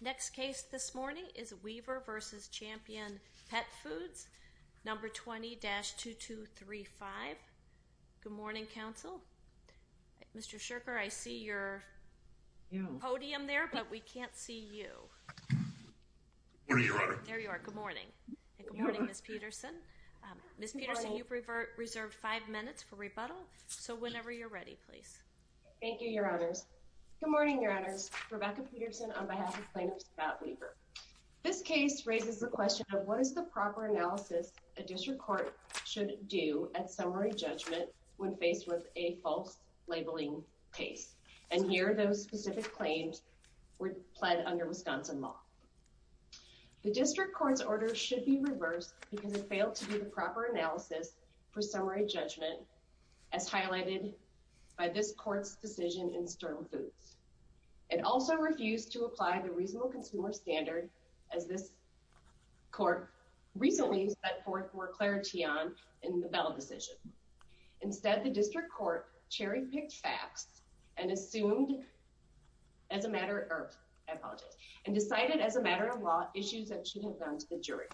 Next case this morning is Weaver v. Champion Petfoods number 20-2235 Good morning counsel Mr. Shirker, I see your Podium there, but we can't see you There you are good morning Good morning Ms. Peterson Ms. Peterson, you've reserved five minutes for rebuttal. So whenever you're ready, please Thank you, your honors good morning your honors Rebecca Peterson on behalf of plaintiffs about Weaver This case raises the question of what is the proper analysis a district court should do at summary judgment? When faced with a false labeling case and here those specific claims were pled under Wisconsin law the district courts order should be reversed because it failed to do the proper analysis for summary judgment as court's decision in sterling foods It also refused to apply the reasonable consumer standard as this court recently set forth for clarity on in the Bell decision instead the district court cherry-picked facts and assumed as a matter of Decided as a matter of law issues that should have gone to the jury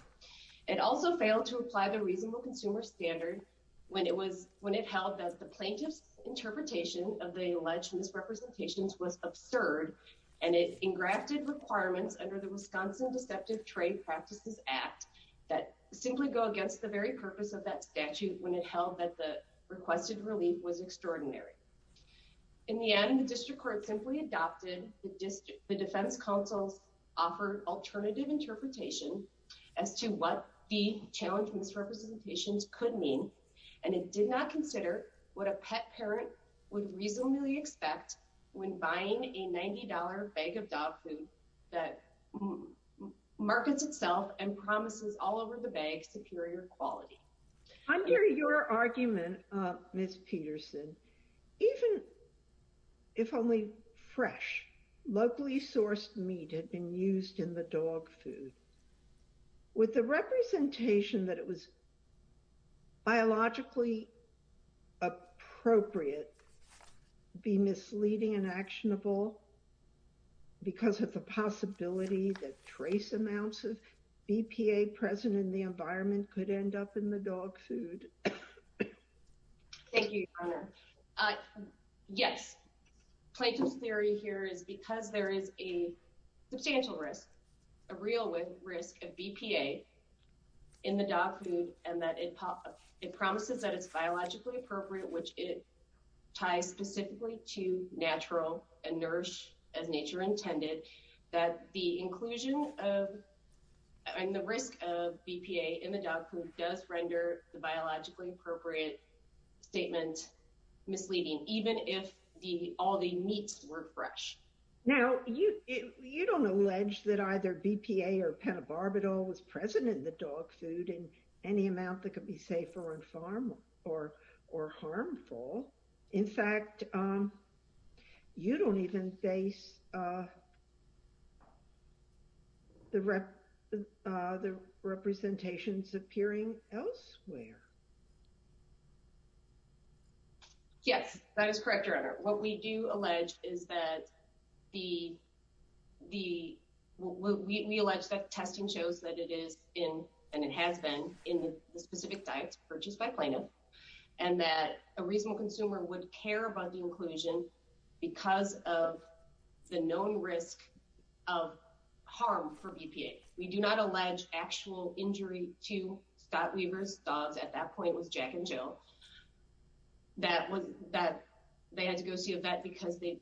It also failed to apply the reasonable consumer standard when it was when it helped as the plaintiff's Interpretation of the alleged misrepresentations was absurd and it engrafted requirements under the Wisconsin deceptive trade practices act that Simply go against the very purpose of that statute when it held that the requested relief was extraordinary In the end the district court simply adopted the district the defense counsel's offered alternative interpretation As to what the challenge misrepresentations could mean and it did not consider what a pet parent would reasonably expect when buying a $90 bag of dog food that Markets itself and promises all over the bag superior quality Under your argument, Miss Peterson even if only fresh locally sourced meat had been used in the dog food with the representation that it was Biologically Appropriate be misleading and actionable Because of the possibility that trace amounts of EPA present in the environment could end up in the dog food Yes plaintiff's theory here is because there is a substantial risk a real risk of BPA in And that it promises that it's biologically appropriate which it ties specifically to natural and nourish as nature intended that the inclusion of And the risk of BPA in the dog food does render the biologically appropriate statement Misleading even if the all the meats were fresh now You don't allege that either BPA or pentobarbital was present in the dog food and any amount that could be safer on farm or or harmful in fact You don't even face The rep the representations appearing elsewhere Yes, that is correct your honor what we do allege is that the the we allege that testing shows that it is in and it has been in the specific diets purchased by plaintiff and that a reasonable consumer would care about the inclusion because of the known risk of Harm for BPA. We do not allege actual injury to Scott Weaver's dogs at that point was Jack and Jill That was that they had to go see a vet because they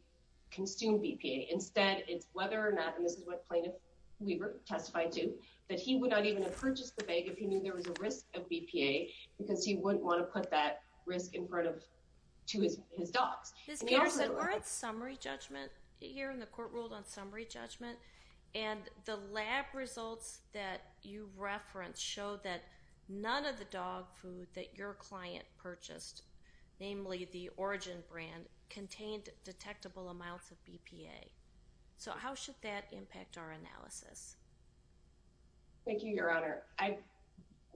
consumed BPA instead It's whether or not this is what plaintiff Weaver testified to that he would not even have purchased the bag if he knew there was a risk of BPA Because he wouldn't want to put that risk in front of to his dogs This is a summary judgment here in the court ruled on summary judgment And the lab results that you reference show that none of the dog food that your client purchased Namely the origin brand contained detectable amounts of BPA So, how should that impact our analysis? Thank you, your honor. I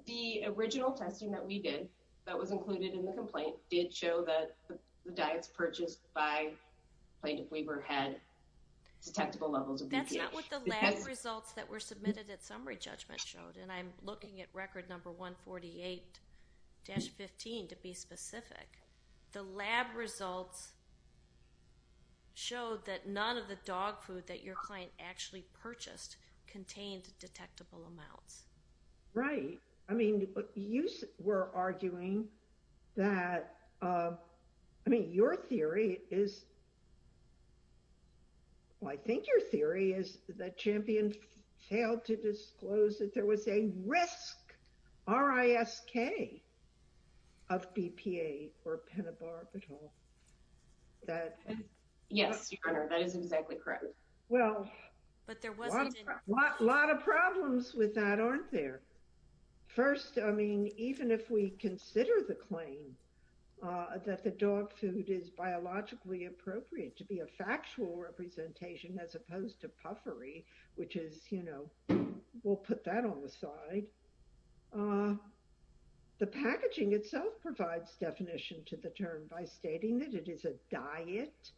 the original testing that we did that was included in the complaint did show that the diets purchased by plaintiff Weaver had Detectable levels of that's not what the lab results that were submitted at summary judgment showed and I'm looking at record number 148 Dash 15 to be specific the lab results Showed that none of the dog food that your client actually purchased contained detectable amounts Right. I mean you were arguing that I mean your theory is Well, I think your theory is that champion failed to disclose that there was a risk RISK of BPA or pentobarbital that Yes, that is exactly correct. Well, but there was a lot of problems with that aren't there? First, I mean even if we consider the claim That the dog food is biologically appropriate to be a factual representation as opposed to puffery Which is you know, we'll put that on the side the Packaging itself provides definition to the term by stating that it is a diet.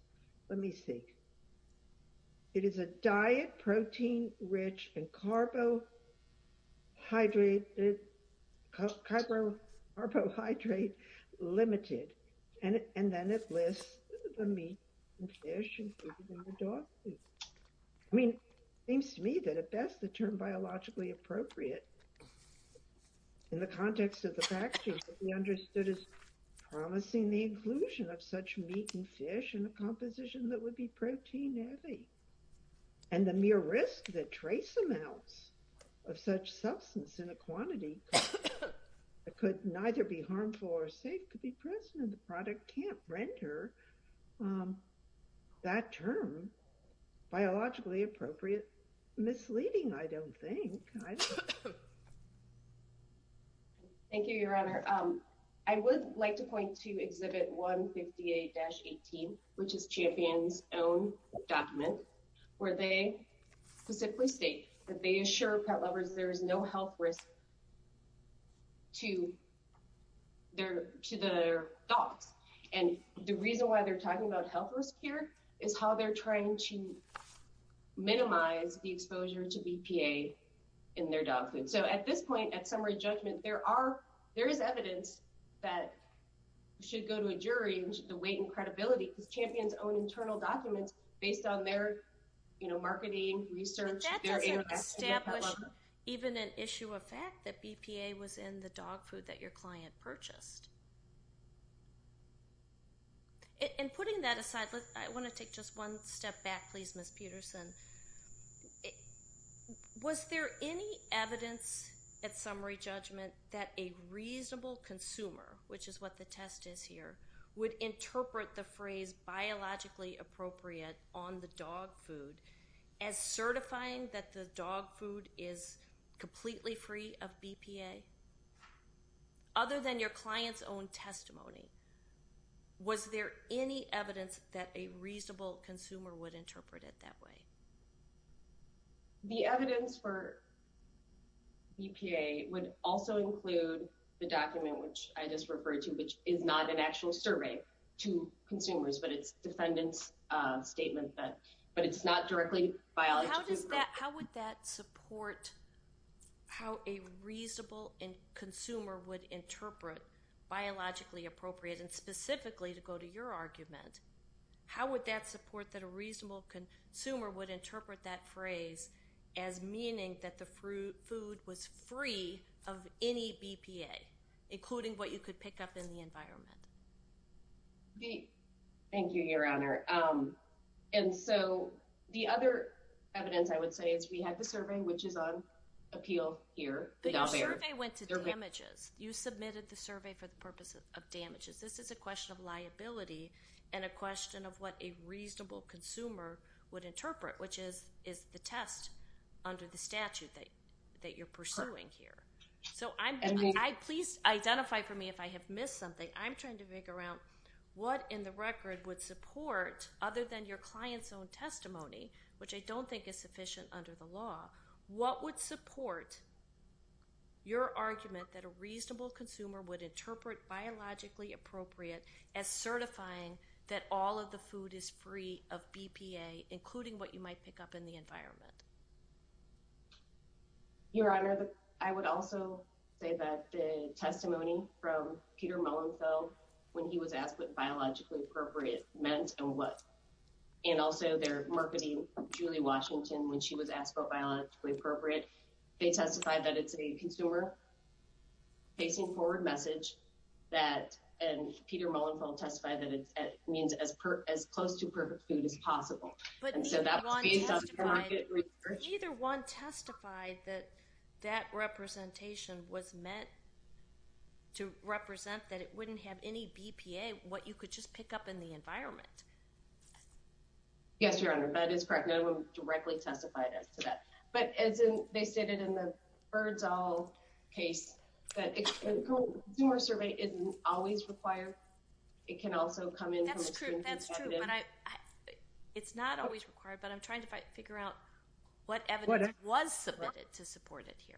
Let me see It is a diet protein rich and carbo Hydrated Carbohydrate Limited and and then it lists the meat I mean seems to me that at best the term biologically appropriate in the context of the package we understood is promising the inclusion of such meat and fish in a composition that would be protein heavy and the mere risk that trace amounts of such substance in a quantity Could neither be harmful or safe could be present the product can't render That term Biologically appropriate misleading. I don't think Thank you, your honor, I would like to point to exhibit 158-18 which is champions own document where they Specifically state that they assure pet lovers. There is no health risk To their to their dogs and the reason why they're talking about health risk here is how they're trying to In their dog food, so at this point at summary judgment, there are there is evidence that Should go to a jury and the weight and credibility because champions own internal documents based on their you know marketing research Even an issue of fact that BPA was in the dog food that your client purchased And putting that aside, but I want to take just one step back please miss Peterson It Was there any evidence at summary judgment that a reasonable consumer? which is what the test is here would interpret the phrase biologically appropriate on the dog food as certifying that the dog food is completely free of BPA Other than your clients own testimony Was there any evidence that a reasonable consumer would interpret it that way? the evidence for BPA would also include the document which I just referred to which is not an actual survey to consumers But it's defendants Statement that but it's not directly How would that support? How a reasonable and consumer would interpret? Biologically appropriate and specifically to go to your argument How would that support that a reasonable consumer would interpret that phrase as Meaning that the fruit food was free of any BPA Including what you could pick up in the environment Hey, thank you your honor And so the other evidence I would say is we had the survey which is on appeal here But your survey went to damages you submitted the survey for the purpose of damages This is a question of liability and a question of what a reasonable consumer would interpret which is is the test Under the statute that that you're pursuing here. So I'm I please identify for me if I have missed something I'm trying to figure out what in the record would support other than your clients own testimony Which I don't think is sufficient under the law. What would support? Your argument that a reasonable consumer would interpret Biologically appropriate as certifying that all of the food is free of BPA including what you might pick up in the environment Your honor I would also say that the testimony from Peter Mullins Oh when he was asked what biologically appropriate meant and what? And also their marketing Julie Washington when she was asked about biologically appropriate they testified that it's a consumer Facing forward message that and Peter Mullins will testify that it means as per as close to perfect food as possible Either one testified that that representation was meant To represent that it wouldn't have any BPA what you could just pick up in the environment Yes, your honor, but it's correct. No directly testified as to that but as in they stated in the birds all case Consumer survey isn't always required. It can also come in It's not always required but I'm trying to figure out what what it was submitted to support it here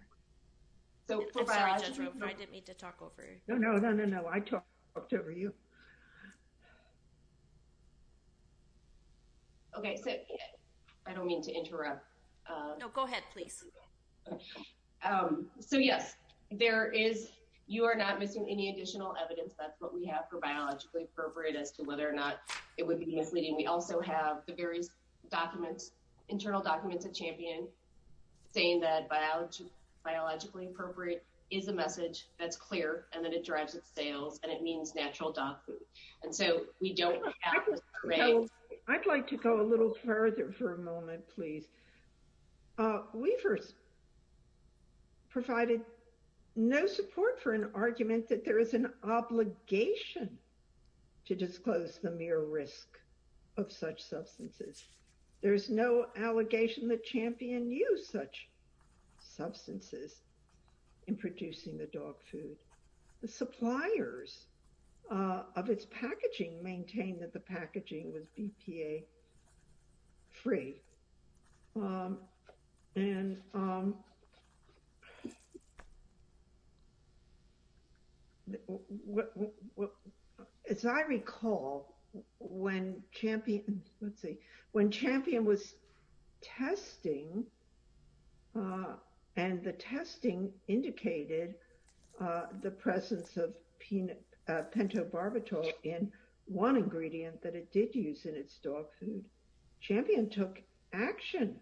No, no, no, no, I talked over you Okay, I don't mean to interrupt no, go ahead, please So, yes, there is you are not missing any additional evidence That's what we have for biologically appropriate as to whether or not it would be misleading We also have the various documents internal documents at champion saying that Biologically appropriate is a message that's clear and that it drives its sales and it means natural dog food. And so we don't Know I'd like to go a little further for a moment, please weavers Provided no support for an argument that there is an obligation To disclose the mere risk of such substances. There's no allegation that champion use such substances in Producing the dog food the suppliers Of its packaging maintain that the packaging was BPA free and As I recall when champion, let's see when champion was testing And the testing indicated The presence of pentobarbital in one ingredient that it did use in its dog food Champion took action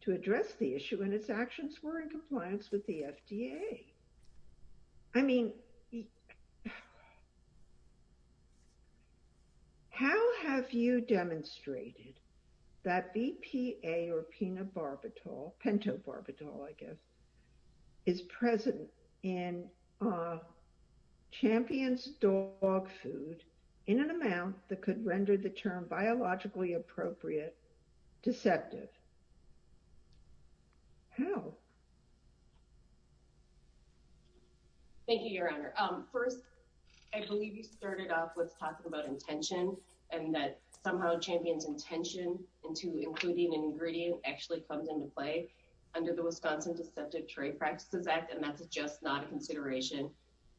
to address the issue and its actions were in compliance with the FDA. I mean How have you demonstrated that BPA or pentobarbital Pentobarbital I guess is present in Champions dog food in an amount that could render the term biologically appropriate deceptive Thank you, your honor first I believe you started off with talking about intention and that somehow champions intention Into including an ingredient actually comes into play under the Wisconsin Deceptive Trade Practices Act And that's just not a consideration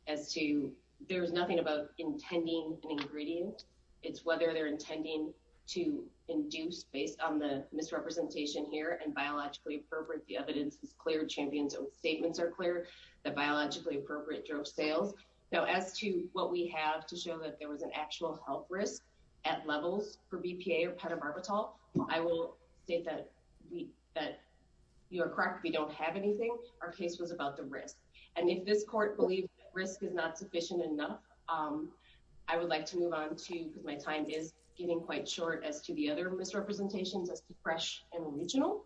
as to there's nothing about intending an ingredient It's whether they're intending to Induce based on the misrepresentation here and biologically appropriate the evidence is clear champions Statements are clear that biologically appropriate drug sales now as to what we have to show that there was an actual health risk at I will You're correct we don't have anything our case was about the risk and if this court believe risk is not sufficient enough I would like to move on to because my time is getting quite short as to the other misrepresentations as to fresh and original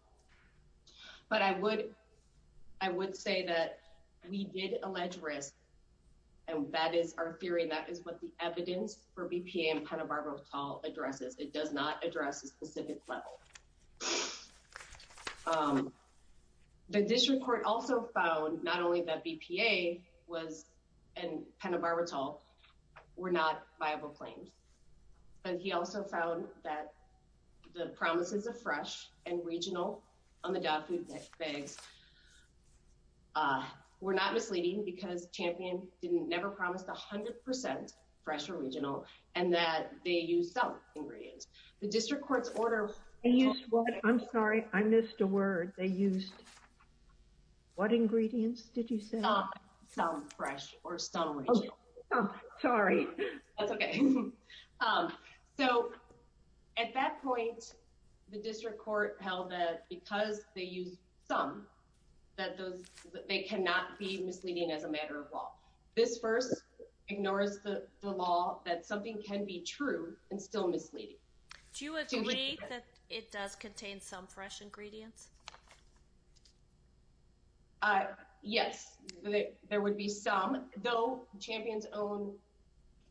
but I would I would say that we did allege risk and That is our theory. That is what the evidence for BPA and pentobarbital addresses. It does not address a specific level The district court also found not only that BPA was and pentobarbital Were not viable claims But he also found that the promises of fresh and regional on the dog food bags We're not misleading because champion didn't never promised a hundred percent fresh or regional and that they use some Ingredients the district courts order. Yes. Well, I'm sorry. I missed a word they used What ingredients did you sell some fresh or some? Sorry So at that point the district court held that because they use some That they cannot be misleading as a matter of law this first Ignores the law that something can be true and still misleading. Do you agree that it does contain some fresh ingredients? Yes, there would be some though champions own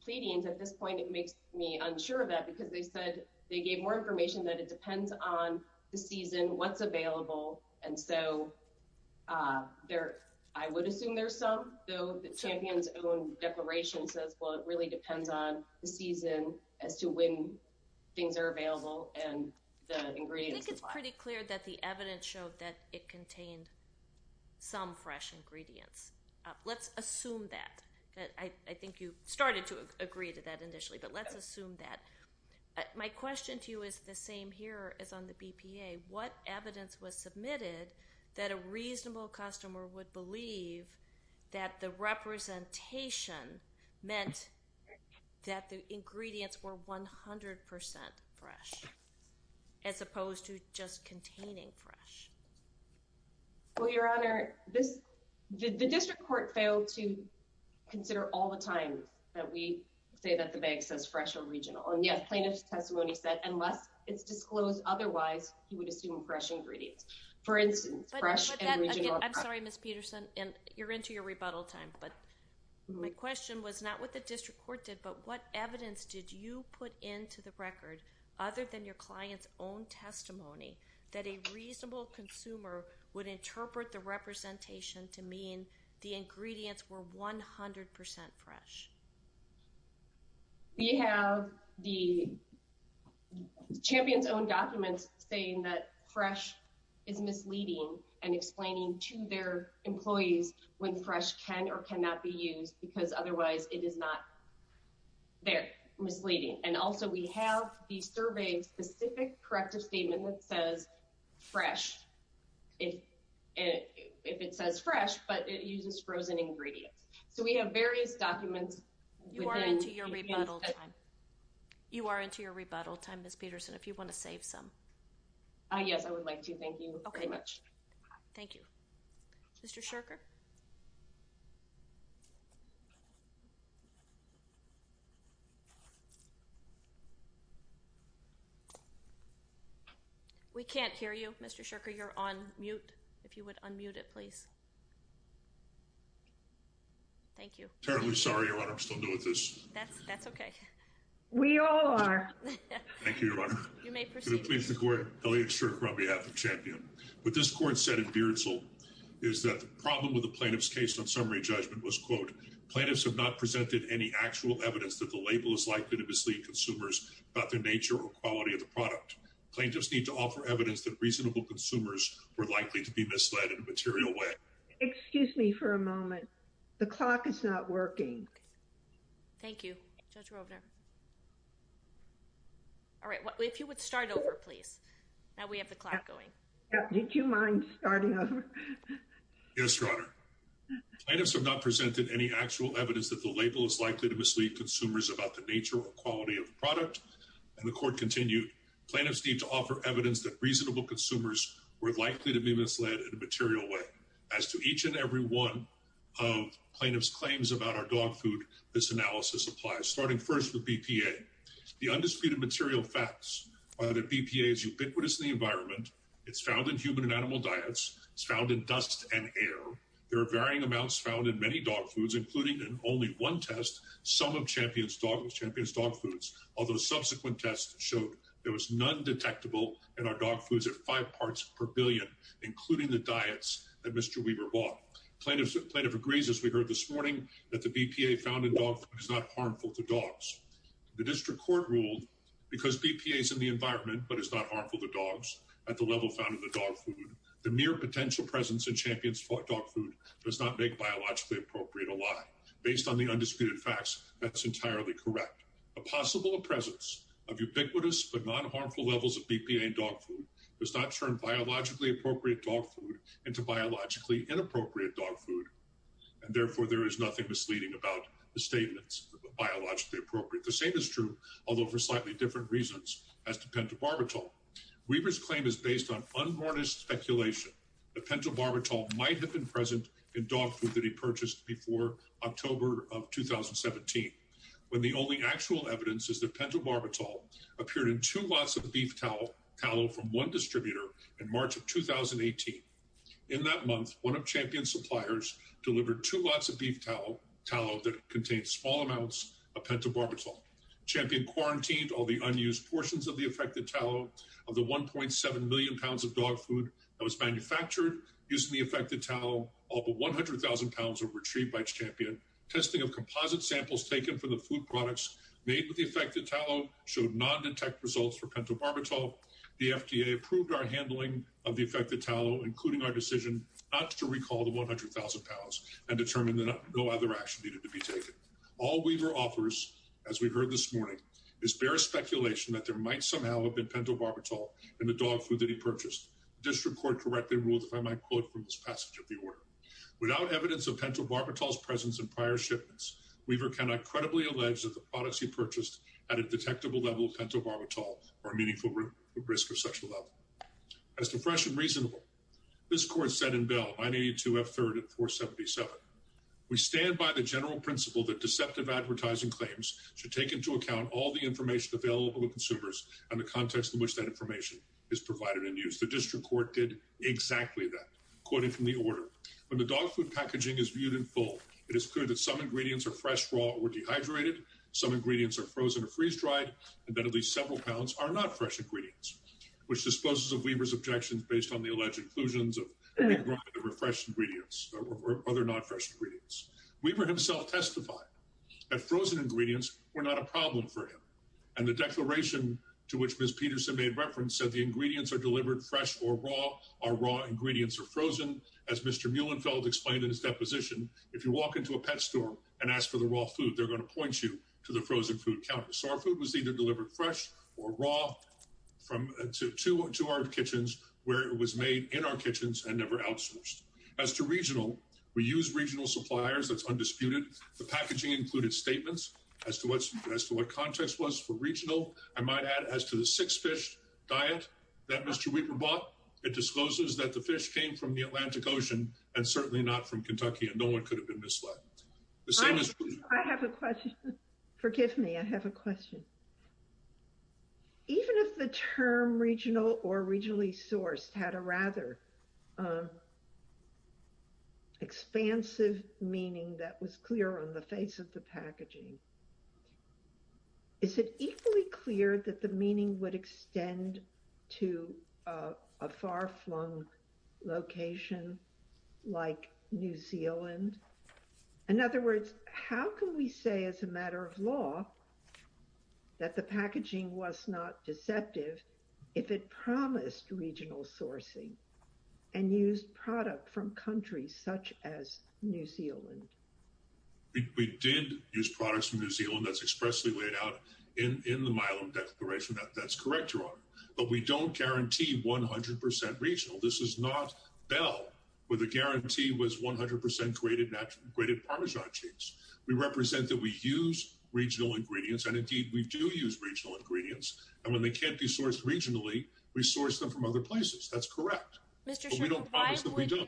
Pleadings at this point it makes me unsure of that because they said they gave more information that it depends on the season what's available and so There I would assume there's some though the champions own Declaration says well, it really depends on the season as to when things are available and the ingredients It's pretty clear that the evidence showed that it contained Some fresh ingredients. Let's assume that I think you started to agree to that initially, but let's assume that My question to you is the same here as on the BPA what evidence was submitted that a reasonable customer would believe that the representation meant that the ingredients were 100% fresh as opposed to just containing fresh Well, your honor this the district court failed to Say that the bank says fresh or regional and yes plaintiff's testimony said unless it's disclosed Otherwise, you would assume fresh ingredients for instance, but I'm sorry, miss Peterson and you're into your rebuttal time But my question was not what the district court did But what evidence did you put into the record other than your clients own? Testimony that a reasonable consumer would interpret the representation to mean the ingredients were 100% fresh We have the Champions own documents saying that fresh is Misleading and explaining to their employees when fresh can or cannot be used because otherwise it is not They're misleading and also we have these surveys specific corrective statement that says fresh if If it says fresh, but it uses frozen ingredients, so we have various documents you are into your rebuttal time You are into your rebuttal time. Miss Peterson if you want to save some Yes, I would like to thank you. Okay much. Thank you Mr. Shirker We Can't hear you. Mr. Shirker. You're on mute if you would unmute it, please Thank you, terribly sorry I'm still doing this. That's that's okay. We all are Thank you Elliot Shirker on behalf of champion But this court said in Beardsall is that the problem with the plaintiffs case on summary judgment was quote Plaintiffs have not presented any actual evidence that the label is likely to mislead consumers about their nature or quality of the product Plaintiffs need to offer evidence that reasonable consumers were likely to be misled in a material way Excuse me for a moment. The clock is not working. Thank you All right, what if you would start over please now we have the clock going did you mind starting over Yes, your honor Plaintiffs have not presented any actual evidence that the label is likely to mislead consumers about the nature or quality of the product And the court continued plaintiffs need to offer evidence that reasonable consumers were likely to be misled in a material way as to each and every one of Plaintiffs claims about our dog food this analysis applies starting first with BPA The undisputed material facts are that BPA is ubiquitous in the environment. It's found in human and animal diets It's found in dust and air There are varying amounts found in many dog foods including in only one test some of champions dog with champions dog foods Although subsequent tests showed there was none detectable in our dog foods at five parts per billion Including the diets that mr. Weaver bought plaintiffs plaintiff agrees as we heard this morning that the BPA found in dog is not harmful to dogs The district court ruled because BPA is in the environment But it's not harmful to dogs at the level found in the dog food the mere potential presence in champions for dog food does not make biologically appropriate a lie based on the undisputed facts that's entirely correct a Ubiquitous but non-harmful levels of BPA and dog food does not turn biologically appropriate dog food into biologically inappropriate dog food And therefore there is nothing misleading about the statements Biologically appropriate the same is true. Although for slightly different reasons as to pentobarbital Weaver's claim is based on unborn is speculation the pentobarbital might have been present in dog food that he purchased before October of 2017 when the only actual evidence is the pentobarbital Appeared in two lots of the beef towel towel from one distributor in March of 2018 in that month One of champion suppliers delivered two lots of beef towel towel that contains small amounts of pentobarbital Champion quarantined all the unused portions of the affected towel of the 1.7 million pounds of dog food that was manufactured Using the affected towel all the 100,000 pounds were retrieved by champion Testing of composite samples taken for the food products made with the affected towel showed non-detect results for pentobarbital The FDA approved our handling of the affected towel including our decision not to recall the 100,000 pounds and determined That no other action needed to be taken all weaver offers as we've heard this morning It's bare speculation that there might somehow have been pentobarbital in the dog food that he purchased District Court correctly ruled if I might quote from this passage of the order Without evidence of pentobarbital's presence in prior shipments Weaver cannot credibly allege that the products he purchased at a detectable level of pentobarbital or a meaningful risk of sexual As to fresh and reasonable this court said in bill I need to have third at 477 we stand by the general principle that deceptive advertising claims Should take into account all the information available to consumers and the context in which that information is provided in use The district court did exactly that Quoting from the order when the dog food packaging is viewed in full It is clear that some ingredients are fresh raw or dehydrated Some ingredients are frozen or freeze-dried and then at least several pounds are not fresh ingredients Which disposes of weavers objections based on the alleged inclusions of? refresh ingredients other not fresh ingredients weaver himself testified at frozen ingredients were not a problem for him and the Delivered fresh or raw our raw ingredients are frozen as mr Mühlenfeld explained in his deposition if you walk into a pet store and ask for the raw food They're going to point you to the frozen food counter. So our food was either delivered fresh or raw From to our kitchens where it was made in our kitchens and never outsourced as to regional we use regional suppliers That's undisputed the packaging included statements as to what's best to what context was for regional I might add as to the six fish diet that mr Weaver bought it discloses that the fish came from the Atlantic Ocean and certainly not from Kentucky and no one could have been misled Forgive me. I have a question Even if the term regional or regionally sourced had a rather Expansive meaning that was clear on the face of the packaging Is it equally clear that the meaning would extend to a far-flung location like New Zealand In other words, how can we say as a matter of law? that the packaging was not deceptive if it promised regional sourcing and used product from countries such as New Zealand We did use products from New Zealand that's expressly laid out in in the Milam declaration that that's correct your honor But we don't guarantee 100% regional This is not Bell with a guarantee was 100% created natural grated Parmesan cheese We represent that we use regional ingredients and indeed we do use regional ingredients and when they can't be sourced regionally We source them from other places. That's correct We do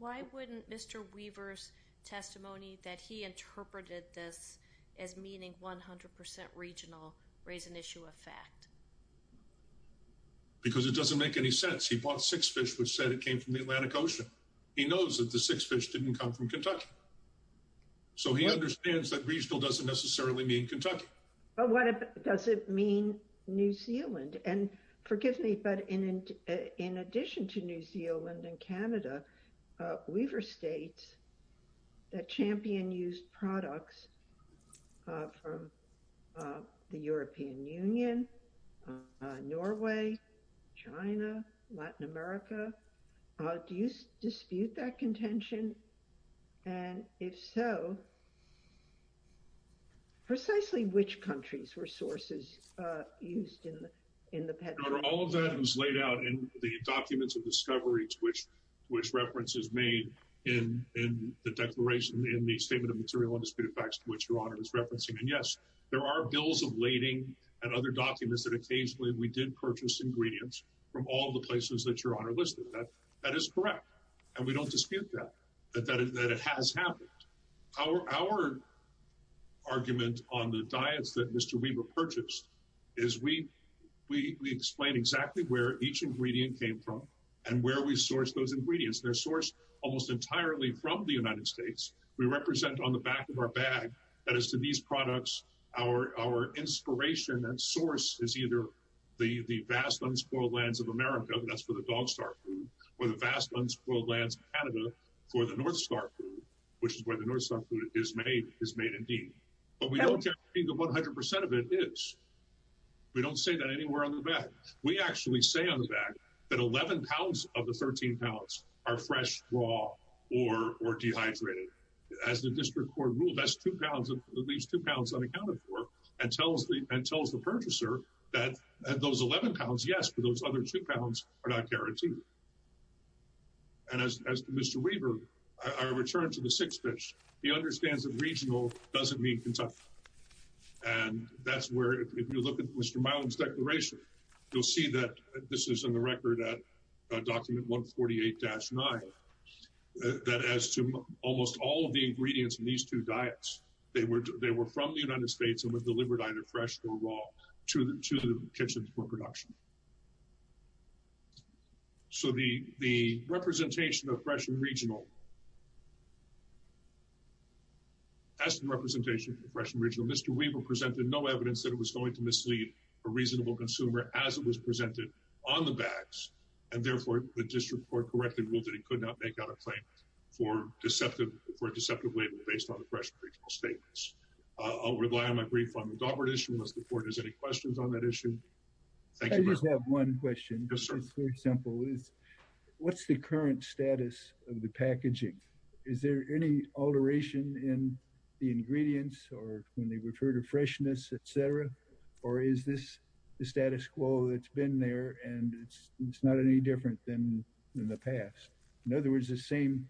why wouldn't mr. Weaver's Testimony that he interpreted this as meaning 100% regional raise an issue of fact Because it doesn't make any sense he bought six fish which said it came from the Atlantic Ocean He knows that the six fish didn't come from, Kentucky So he understands that regional doesn't necessarily mean Kentucky. Oh, what does it mean? New Zealand and forgive me, but in in addition to New Zealand and Canada Weaver states that champion used products from the European Union Norway China Latin America Do you dispute that contention? And if so Precisely, which countries were sources All of that was laid out in the documents of discoveries which which references made in The declaration in the statement of material and disputed facts to which your honor is referencing And yes There are bills of lading and other documents that occasionally we did purchase ingredients from all the places that your honor listed that That is correct, and we don't dispute that but that is that it has happened Our Argument on the diets that mr Weaver purchased is we we explain exactly where each ingredient came from and where we source those ingredients They're sourced almost entirely from the United States. We represent on the back of our bag. That is to these products our Inspiration and source is either the the vast unspoiled lands of America That's for the dog star food or the vast unspoiled lands Canada for the North Star Which is where the North Star food is made is made indeed, but we don't think of 100% of it is We don't say that anywhere on the back We actually say on the back that 11 pounds of the 13 pounds are fresh raw or or dehydrated As the district court ruled that's two pounds of at least two pounds unaccounted for and tells me and tells the purchaser That those 11 pounds, yes, but those other two pounds are not guaranteed And as mr. Weaver I return to the six fish. He understands that regional doesn't mean Kentucky and That's where if you look at mr. Milam's declaration, you'll see that this is in the record at document 148-9 That as to almost all of the ingredients in these two diets They were they were from the United States and was delivered either fresh or raw to the to the kitchens for production So the the representation of fresh and regional As the representation for fresh and regional mr Weaver presented no evidence that it was going to mislead a reasonable consumer as it was presented on the bags and Deceptive for deceptive label based on the fresh statements. I'll rely on my brief on the dog radish. We must afford is any questions on that issue Thank you. One question. Yes, sir. Simple is What's the current status of the packaging? Is there any alteration in the ingredients or when they refer to? Freshness, etc. Or is this the status quo that's been there and it's not any different than in the past In other words, the same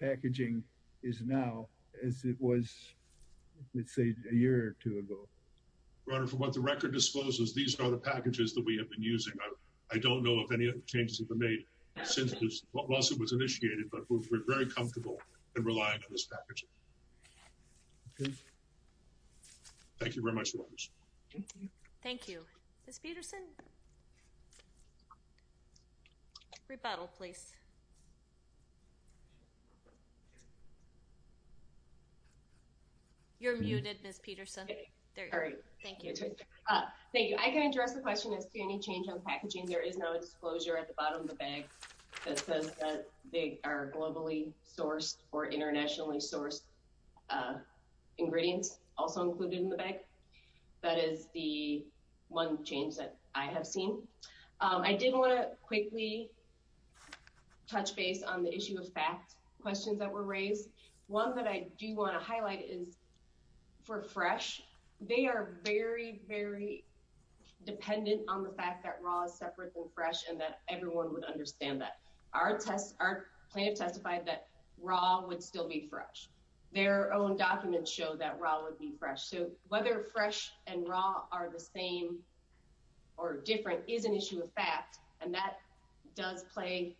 packaging is now as it was Let's say a year or two ago Runner for what the record discloses. These are the packages that we have been using I don't know if any of the changes have been made since this lawsuit was initiated, but we're very comfortable and relying on this package Thank you very much, thank you You You're muted miss Peterson, all right Thank you. I can address the question is to any change on packaging There is no disclosure at the bottom of the bag that says that they are globally sourced or internationally sourced Ingredients also included in the bag. That is the one change that I have seen I didn't want to quickly Touch base on the issue of fact questions that were raised one that I do want to highlight is for fresh they are very very Dependent on the fact that raw is separate and fresh and that everyone would understand that our tests are Plenty of testified that raw would still be fresh their own documents show that raw would be fresh so whether fresh and raw are the same or Different is an issue of fact and that does play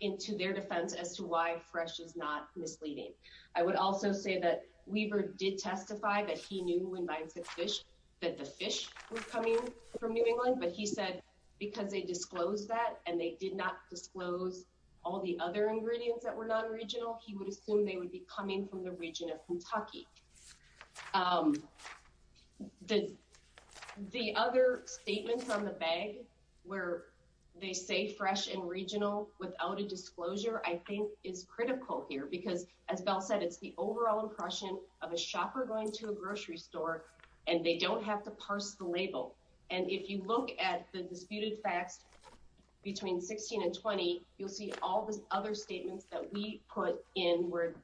Into their defense as to why fresh is not misleading I would also say that Weaver did testify that he knew when buying six fish that the fish From New England, but he said because they disclosed that and they did not disclose all the other ingredients that were non-regional He would assume they would be coming from the region of Kentucky The The other statements on the bag where They say fresh and regional without a disclosure I think is critical here because as Bell said it's the overall impression of a shopper going to a grocery store and They don't have to parse the label and if you look at the disputed facts Between 16 and 20, you'll see all the other statements that we put in word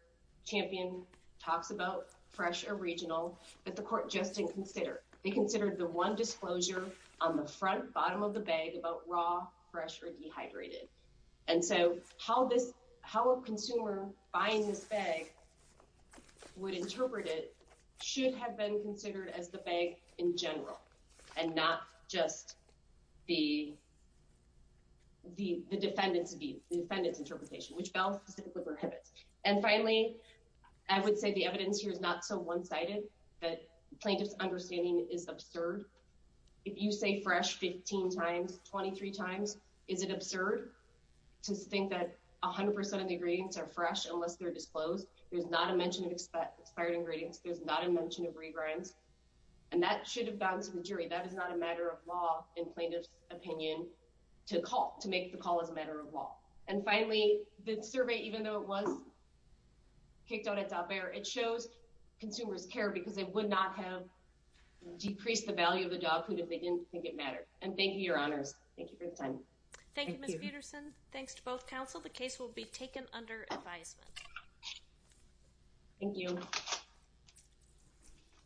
Champion talks about fresh or regional that the court just didn't consider they considered the one disclosure on the front bottom of the bag about raw fresh or dehydrated and So how this how a consumer buying this bag? would interpret it should have been considered as the bag in general and not just the The defendant's view the defendant's interpretation which Bell prohibits and finally I Would say the evidence here is not so one-sided that plaintiff's understanding is absurd If you say fresh 15 times 23 times, is it absurd? To think that a hundred percent of the ingredients are fresh unless they're disclosed. There's not a mention of expired ingredients There's not a mention of rebrands and that should have gone to the jury. That is not a matter of law in plaintiffs opinion To call to make the call as a matter of law. And finally the survey even though it was Kicked out at top air. It shows consumers care because they would not have Decreased the value of the dog food if they didn't think it mattered and thank you your honors. Thank you for the time Thanks to both counsel the case will be taken under advisement Thank you